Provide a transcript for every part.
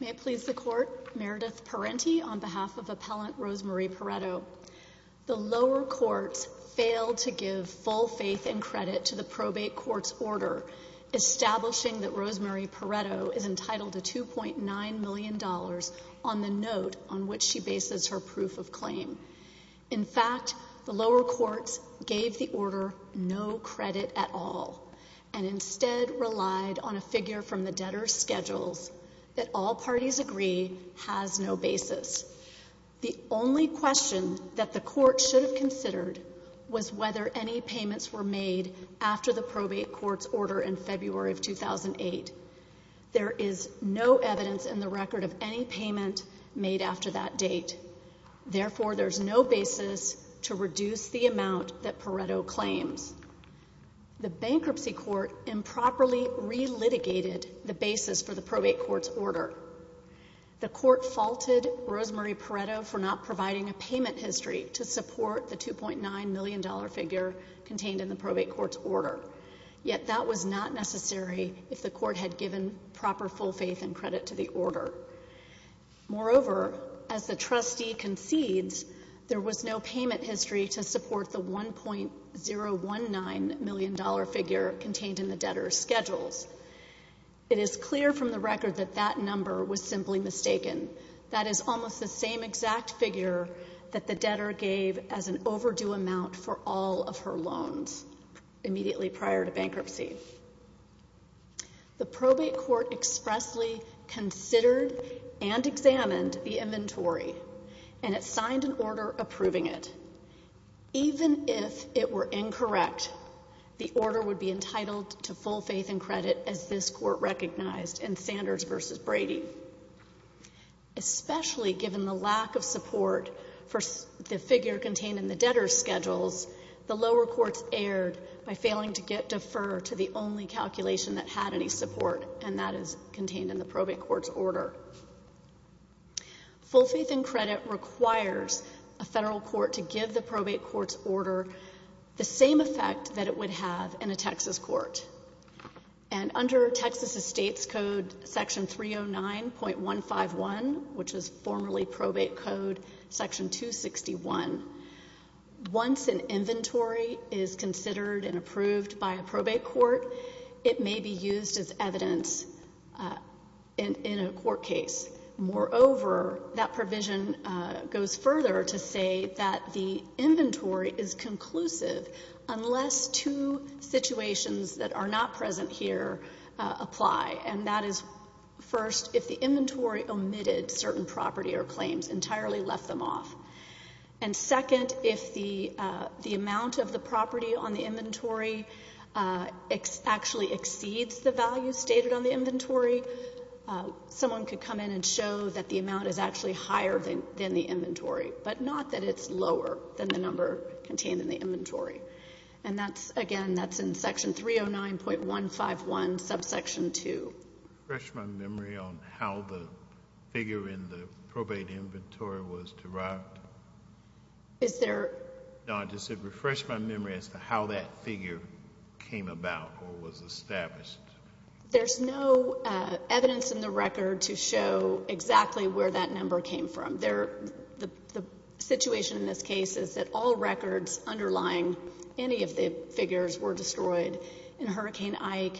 May it please the Court, Meredith Parenti on behalf of Appellant Rosemarie Porretto. The lower courts failed to give full faith and credit to the probate court's order establishing that Rosemarie Porretto is entitled to $2.9 million on the note on which she bases her proof of claim. In fact, the lower courts gave the order no credit at all and instead relied on a figure from the debtor's schedules that all parties agree has no basis. The only question that the court should have considered was whether any payments were made after the probate court's order in February of 2008. There is no evidence in the record of any date. Therefore, there is no basis to reduce the amount that Porretto claims. The bankruptcy court improperly relitigated the basis for the probate court's order. The court faulted Rosemarie Porretto for not providing a payment history to support the $2.9 million figure contained in the probate court's order. Yet that was not necessary if the court had given proper full faith and credit to the order. Moreover, as the trustee concedes, there was no payment history to support the $1.019 million figure contained in the debtor's schedules. It is clear from the record that that number was simply mistaken. That is almost the same exact figure that the debtor gave as an overdue amount for all of her loans immediately prior to bankruptcy. The probate court expressly considered and examined the inventory and it signed an order approving it. Even if it were incorrect, the order would be entitled to full faith and credit as this court recognized in Sanders v. Brady. Especially given the lack of support for the figure contained in the debtor's schedules, the lower courts erred by failing to defer to the only calculation that had any support and that is contained in the probate court's order. Full faith and credit requires a federal court to give the probate court's order the same effect that it would have in a Texas court. And under Texas Estates Code Section 309.151, which is formerly Probate Code Section 261, once an inventory is considered and approved by a probate court, it may be used as evidence in a court case. Moreover, that provision goes further to say that the inventory is conclusive unless two situations that are not present here apply. And that is first, if the inventory omitted certain property or claims, entirely left them off. And second, if the amount of the property on the inventory actually exceeds the value stated on the inventory, someone could come in and show that the amount is actually higher than the inventory, but not that it's lower than the number contained in the inventory. And that's, again, that's in Section 309.151, subsection 2. Refresh my memory on how the figure in the probate inventory was derived. Is there... No, I just said refresh my memory as to how that figure came about or was established. There's no evidence in the record to show exactly where that number came from. The situation in this case is that all records underlying any of the figures were destroyed in Hurricane Maria.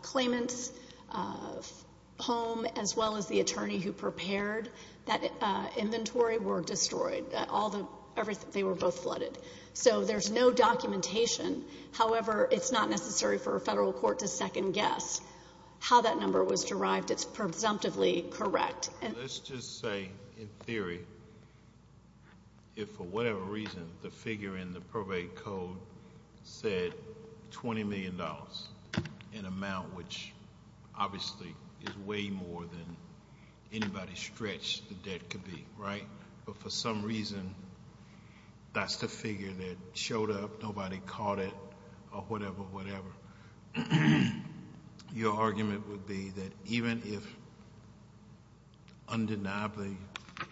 Claimants, home, as well as the attorney who prepared that inventory were destroyed. All the...they were both flooded. So there's no documentation. However, it's not necessary for a federal court to second guess how that number was derived. It's presumptively correct. Let's just say, in theory, if for whatever reason the figure in the probate code said $20 million, an amount which obviously is way more than anybody stretched the debt could be, right? But for some reason, that's the figure that showed up, nobody caught it, or whatever, whatever. Your argument would be that even if undeniably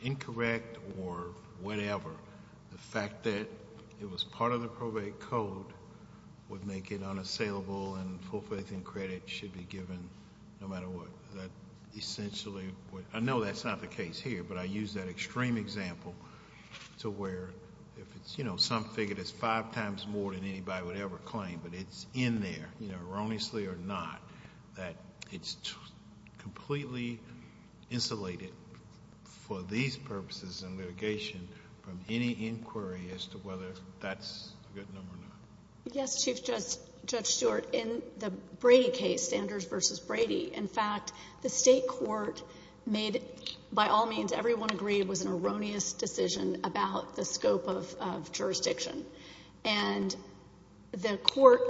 incorrect or whatever, the fact that it was part of the probate code would make it unassailable and full faith and credit should be given no matter what. That essentially would...I know that's not the case here, but I use that extreme example to where if it's, you know, some figure that's five times more than anybody would ever claim, but it's in there, you know, erroneously or not, that it's completely insulated for these purposes and litigation from any inquiry as to whether that's a good number or not. Yes, Chief Judge Stewart. In the Brady case, Sanders v. Brady, in fact, the state court made by all means, everyone agreed, was an erroneous decision about the scope of jurisdiction. And the court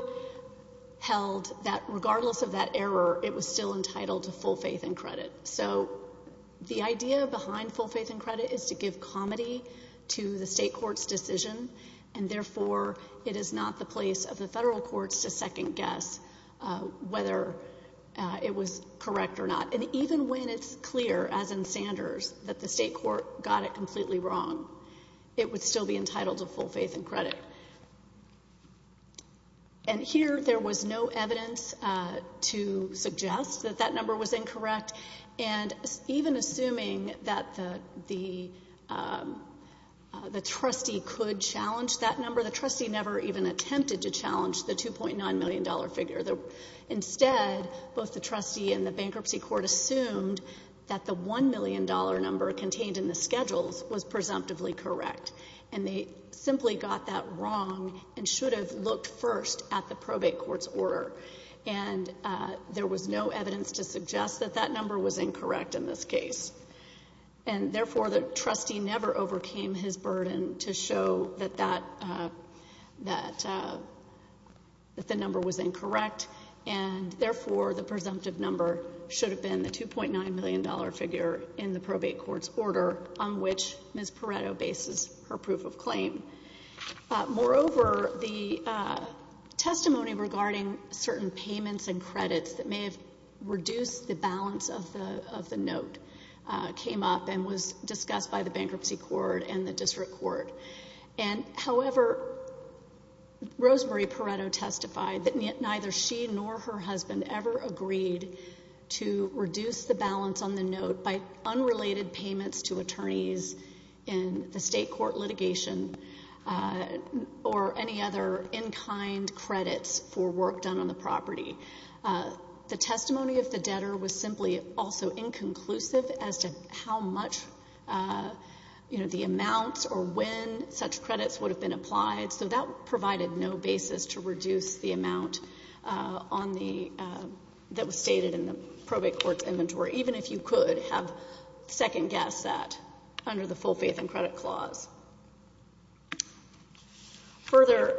held that regardless of that error, it was still entitled to full faith and credit. So the idea behind full faith and credit is to give comity to the state court's decision, and therefore, it is not the place of the federal courts to second guess whether it was correct or not. And even when it's clear, as in Sanders, that the state court got it completely wrong, it would still be entitled to full faith and credit. And here, there was no evidence to suggest that that number was incorrect. And even assuming that the trustee could challenge that number, the trustee never even attempted to challenge the $2.9 million figure. Instead, both the trustee and the bankruptcy court assumed that the $1 million number contained in the schedules was presumptively correct. And they simply got that wrong and should have looked first at the probate court's order. And there was no evidence to suggest that that number was incorrect in this case. And therefore, the trustee never overcame his burden to show that that, that the number was incorrect. And, therefore, the presumptive number should have been the $2.9 million figure in the probate court's order on which Ms. Pareto bases her proof of claim. Moreover, the testimony regarding certain payments and credits that may have reduced the balance of the note came up and was discussed by the bankruptcy court and the district court. And, however, Rosemary Pareto testified that neither she nor her husband ever agreed to reduce the balance on the note by unrelated payments to attorneys in the state court litigation or any other in-kind credits for work done on the property. The testimony of the debtor was simply also inconclusive as to how much, you know, the amounts or when such credits would have been to reduce the amount on the, that was stated in the probate court's inventory, even if you could have second-guessed that under the full faith and credit clause. Further,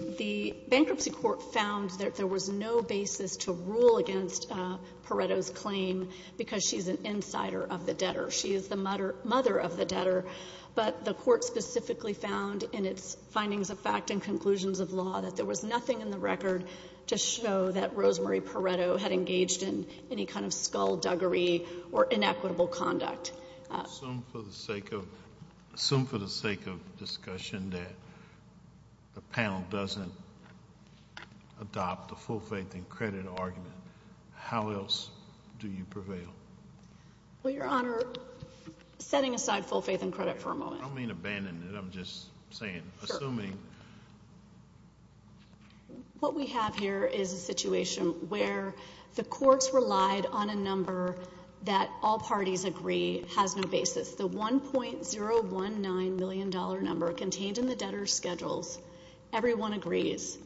the bankruptcy court found that there was no basis to rule against Pareto's claim because she's an insider of the debtor. She is the mother of the debtor. But the court specifically found in its findings of fact and conclusions of law that there was nothing in the record to show that Rosemary Pareto had engaged in any kind of skullduggery or inequitable conduct. Assume for the sake of, assume for the sake of discussion that the panel doesn't adopt the full faith and credit argument, how else do you prevail? Well, Your Honor, setting aside full faith and credit for a moment. I don't mean abandon it. I'm just saying, assuming. What we have here is a situation where the courts relied on a number that all parties agree has no basis. The $1.019 million number contained in the debtor's schedules, everyone agrees,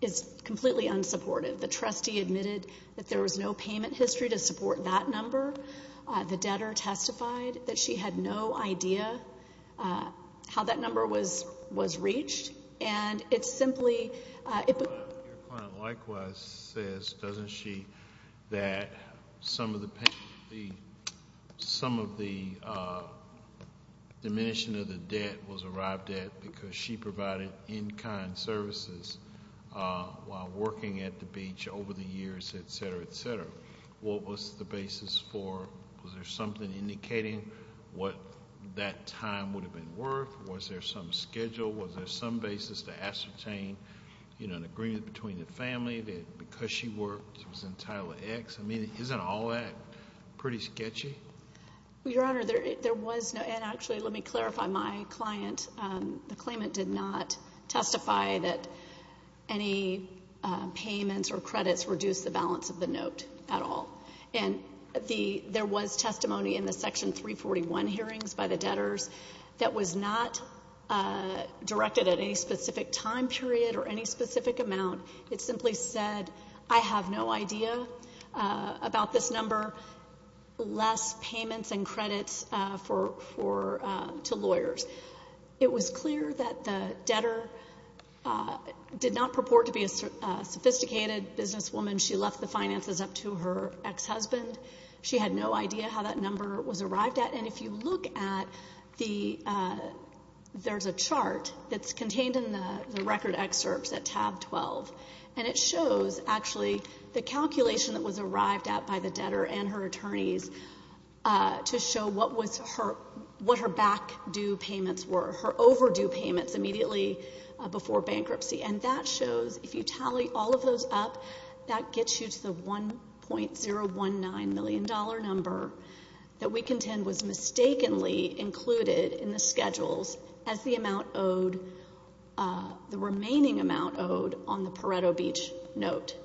is completely unsupported. The trustee admitted that there was no payment history to support that number. The debtor testified that she had no idea how that number was reached. And it's simply— Your client likewise says, doesn't she, that some of the payment, some of the diminution of the debt was arrived at because she provided in-kind services while working at the beach over the years, et cetera, et cetera. What was the basis for, was there something indicating what that time would have been worth? Was there some schedule? Was there some basis to ascertain, you know, an agreement between the family that because she worked, she was entitled to X? I mean, isn't all that pretty sketchy? Well, Your Honor, there was no—and actually, let me clarify. My client, the claimant did not testify that any payments or credits reduced the balance of the note at all. And there was testimony in the Section 341 hearings by the debtors that was not directed at any specific time period or any specific amount. It simply said, I have no idea about this The debtor did not purport to be a sophisticated businesswoman. She left the finances up to her ex-husband. She had no idea how that number was arrived at. And if you look at the—there's a chart that's contained in the record excerpts at tab 12. And it shows, actually, the calculation that was arrived at by the debtor and her attorneys to show what was her—what her back-due payments were, her overdue payments immediately before bankruptcy. And that shows, if you tally all of those up, that gets you to the $1.019 million number that we contend was mistakenly included in the schedules as the amount owed—the remaining amount owed on the Pareto Beach note.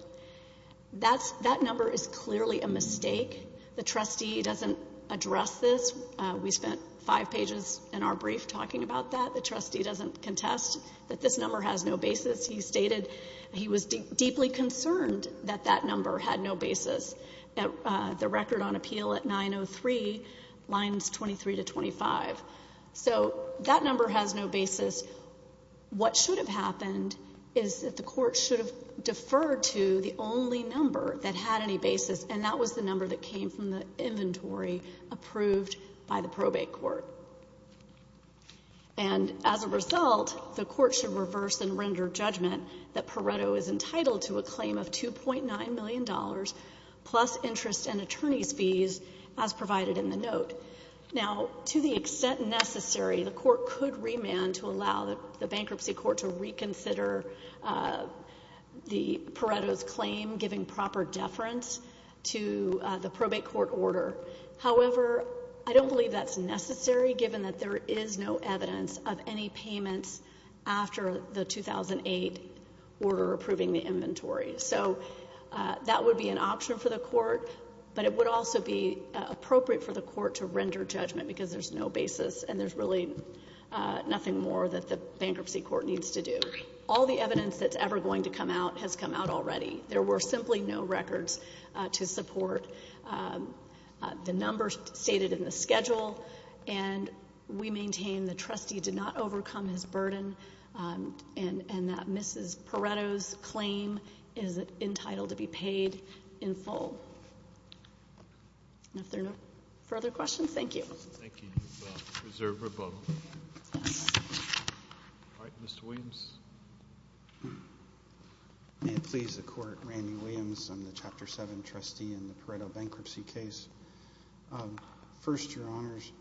That number is clearly a mistake. The trustee doesn't address this. We spent five pages in our brief talking about that. The trustee doesn't contest that this number has no basis. He stated he was deeply concerned that that number had no basis. The record on appeal at 903, lines 23 to 25. So that number has no basis. What should have happened is that the court should have deferred to the only number that had any basis, and that was the number that came from the inventory approved by the probate court. And as a result, the court should reverse and render judgment that Pareto is entitled to a claim of $2.9 million plus interest and attorney's fees as provided in the note. Now, to the extent necessary, the court could remand to allow the bankruptcy court to reconsider the—Pareto's claim, giving proper deference to the probate court order. However, I don't believe that's necessary given that there is no evidence of any payments after the 2008 order approving the inventory. So that would be an option for the court, but it would also be appropriate for the court to render judgment because there's no basis and there's really nothing more that the bankruptcy court needs to do. All the evidence that's ever going to come out has come out already. There were simply no records to support the numbers stated in the schedule, and we maintain the trustee did not overcome his burden and that Mrs. Pareto's claim is entitled to be paid in full. And if there are no further questions, thank you. Thank you. Reserve rebuttal. All right, Mr. Williams. May it please the Court, Randy Williams. I'm the Chapter 7 trustee in the Pareto bankruptcy case. First, Your Honors,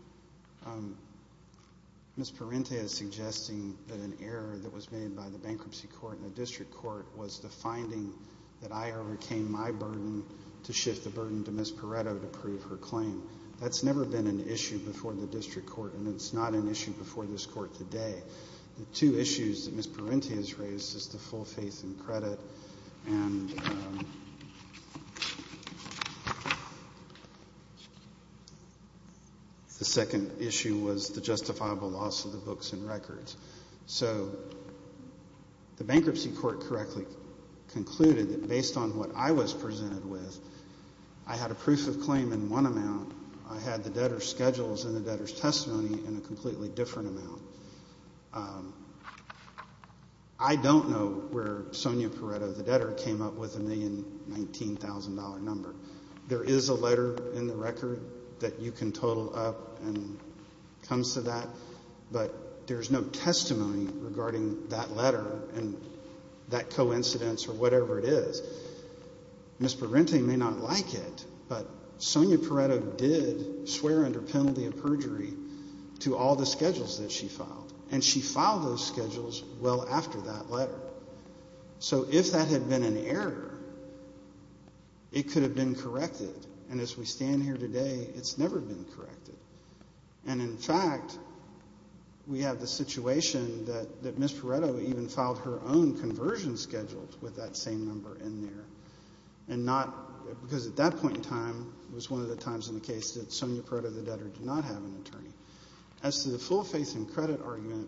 Ms. Parente is suggesting that an error that was made by the bankruptcy court and the district court was the finding that I overcame my burden to shift the burden to Ms. Pareto to prove her claim. That's never been an issue before the district court, and it's not an issue before this Court today. The two issues that Ms. Parente has raised is the full faith and credit, and the second issue was the justifiable loss of the books and records. So the bankruptcy court correctly concluded that based on what I was presented with, I had a proof of claim in one amount, I had the debtor's schedules and the debtor's testimony in a completely different amount. I don't know where Sonia Pareto, the debtor, came up with a $1,019,000 number. There is a letter in the record that you can total up and comes to that, but there's no testimony regarding that letter and that coincidence or whatever it is. Ms. Parente may not like it, but Sonia Pareto did swear under penalty of perjury to all the schedules that she filed, and she filed those schedules well after that letter. So if that had been an error, it could have been corrected, and as we stand here today, it's never been corrected. And in fact, we know that Sonia Pareto even filed her own conversion schedules with that same number in there, and not, because at that point in time, it was one of the times in the case that Sonia Pareto, the debtor, did not have an attorney. As to the full faith and credit argument,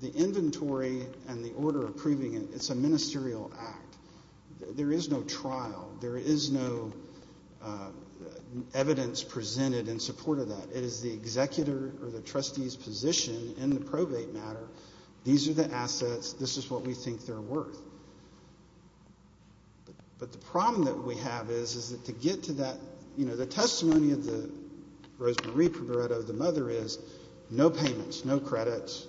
the inventory and the order approving it, it's a ministerial act. There is no trial. There is no evidence presented in support of that. It is the executor or the trustee's position in the probate matter, these are the assets, this is what we think they're worth. But the problem that we have is, is that to get to that, you know, the testimony of the Rosemarie Pareto, the mother, is no payments, no credits,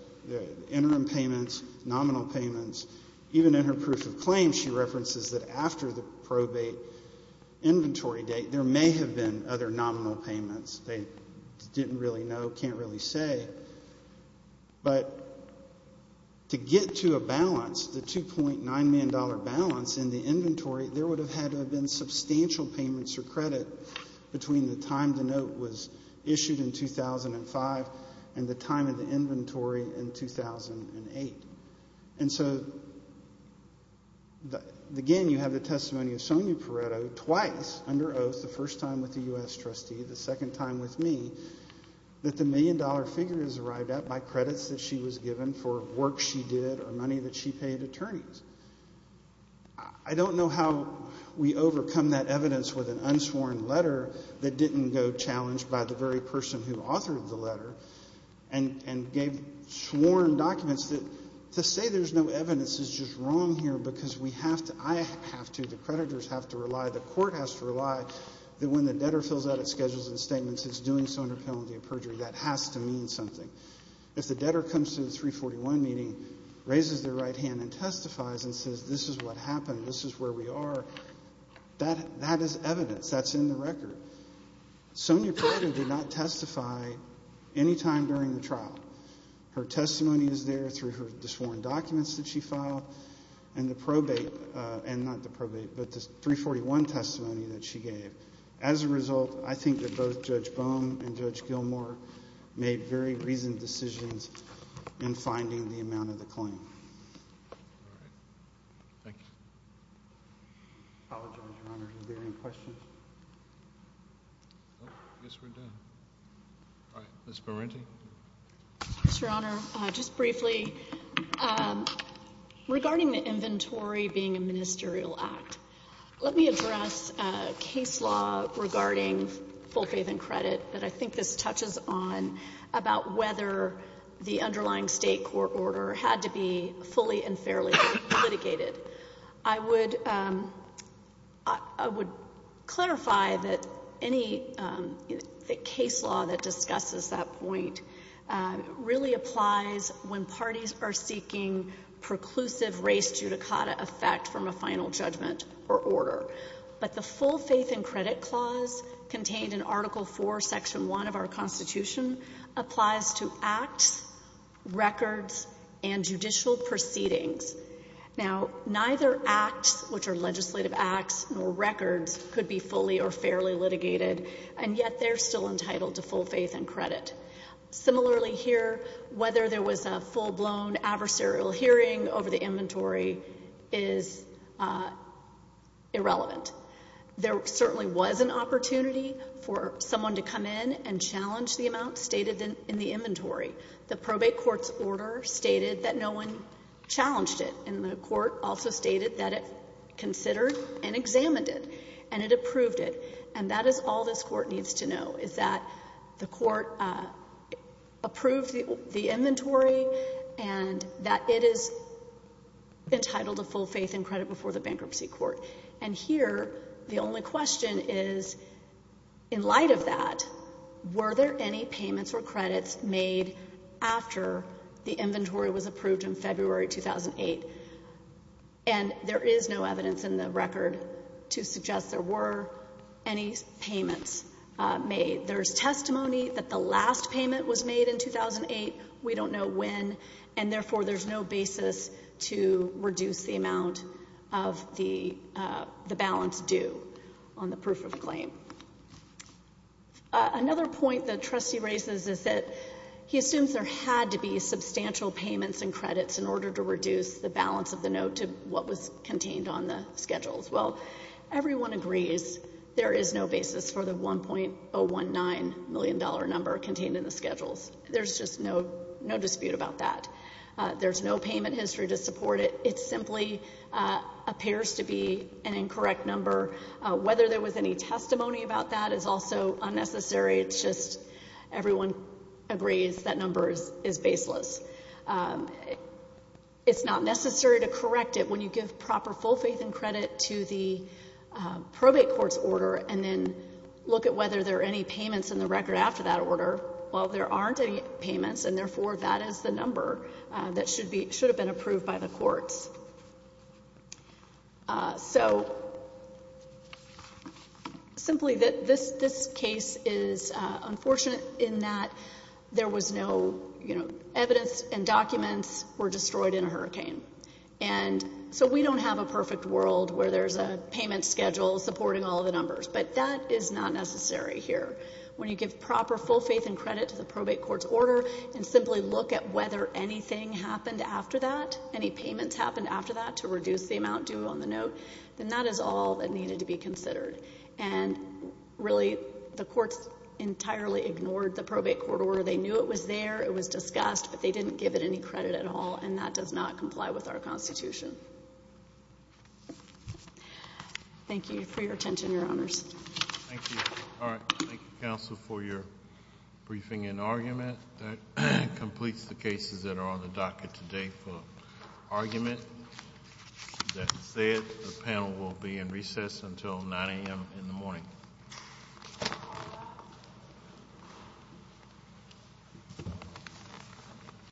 interim payments, nominal payments. Even in her proof of claim, she references that after the probate inventory date, there may have been other nominal payments. They didn't really know, can't really say. But to get to a balance, the $2.9 million balance in the inventory, there would have had to have been substantial payments or credit between the time the note was issued in 2005 and the time of the inventory in 2008. And so, again, you have the testimony of Sonia Pareto, twice under oath, the first time with the U.S. trustee, the second time with me, that the million-dollar figure is arrived at by credits that she was given for work she did or money that she paid attorneys. I don't know how we overcome that evidence with an unsworn letter that didn't go challenged by the very person who authored the letter and gave sworn documents that to say there's no evidence is just wrong here because we have to, I have to, the creditors have to rely, the court has to rely that when the has to mean something. If the debtor comes to the 341 meeting, raises their right hand and testifies and says this is what happened, this is where we are, that is evidence, that's in the record. Sonia Pareto did not testify any time during the trial. Her testimony is there through her sworn documents that she filed and the probate and not the probate but the 341 testimony that she gave. As a result, I think that both Judge Bohm and Judge Gilmour made very reasoned decisions in finding the amount of the claim. All right. Thank you. I apologize, Your Honor. Are there any questions? I guess we're done. All right. Ms. Parenti? Yes, Your Honor. Just briefly, regarding the inventory being a ministerial act, let me address a case law regarding full faith and credit that I think this touches on about whether the underlying state court order had to be fully and fairly litigated. I would clarify that any case law that discusses that point really applies when parties are seeking preclusive race judicata effect from a final judgment or order. But the full faith and credit clause contained in Article IV, Section 1 of our Constitution applies to acts, records, and judicial proceedings. Now, neither acts, which are legislative acts nor records, could be fully or fairly litigated, and yet they're still entitled to full faith and credit. Similarly here, whether there was a full-blown adversarial hearing over the inventory is irrelevant. There certainly was an opportunity for someone to come in and challenge the amount stated in the inventory. The probate court's order stated that no one challenged it, and the court also stated that it considered and examined it, and it approved it. And that is all this Court needs to know, is that the court approved the inventory and that it is entitled to full faith and credit before the bankruptcy court. And here, the only question is, in light of that, were there any payments or credits made after the inventory was approved in February 2008? And there is no evidence in the record to suggest there were any payments made. There's testimony that the last payment was made in 2008. We don't know when, and therefore there's no basis to reduce the amount of the balance due on the proof of claim. Another point the trustee raises is that he assumes there had to be substantial payments and credits in order to reduce the balance of the note to what was contained on the schedules. Well, everyone agrees there is no basis for the $1.019 million number contained in the schedules. There's just no dispute about that. There's no payment history to support it. It simply appears to be an incorrect number. Whether there was any testimony about that is also unnecessary. It's just everyone agrees that number is baseless. It's not necessary to correct it when you give proper full faith and credit to the probate court's order and then look at whether there are any payments in the record after that order. Well, there aren't any payments, and therefore that is the number that should have been approved by the courts. So simply this case is unfortunate in that there was no evidence and documents were destroyed in a hurricane. And so we don't have a perfect world where there's a payment schedule supporting all the numbers. But that is not necessary here. When you give proper full faith and credit to the probate court's order and simply look at whether anything happened after that any payments happened after that to reduce the amount due on the note, then that is all that needed to be considered. And really, the courts entirely ignored the probate court order. They knew it was there. It was discussed, but they didn't give it any credit at all, and that does not comply with our Constitution. Thank you for your attention, Your Honors. Thank you. All right. Thank you, Counsel, for your briefing and argument. That completes the cases that are on the docket today for argument. That said, the panel will be in recess until 9 a.m. in the morning.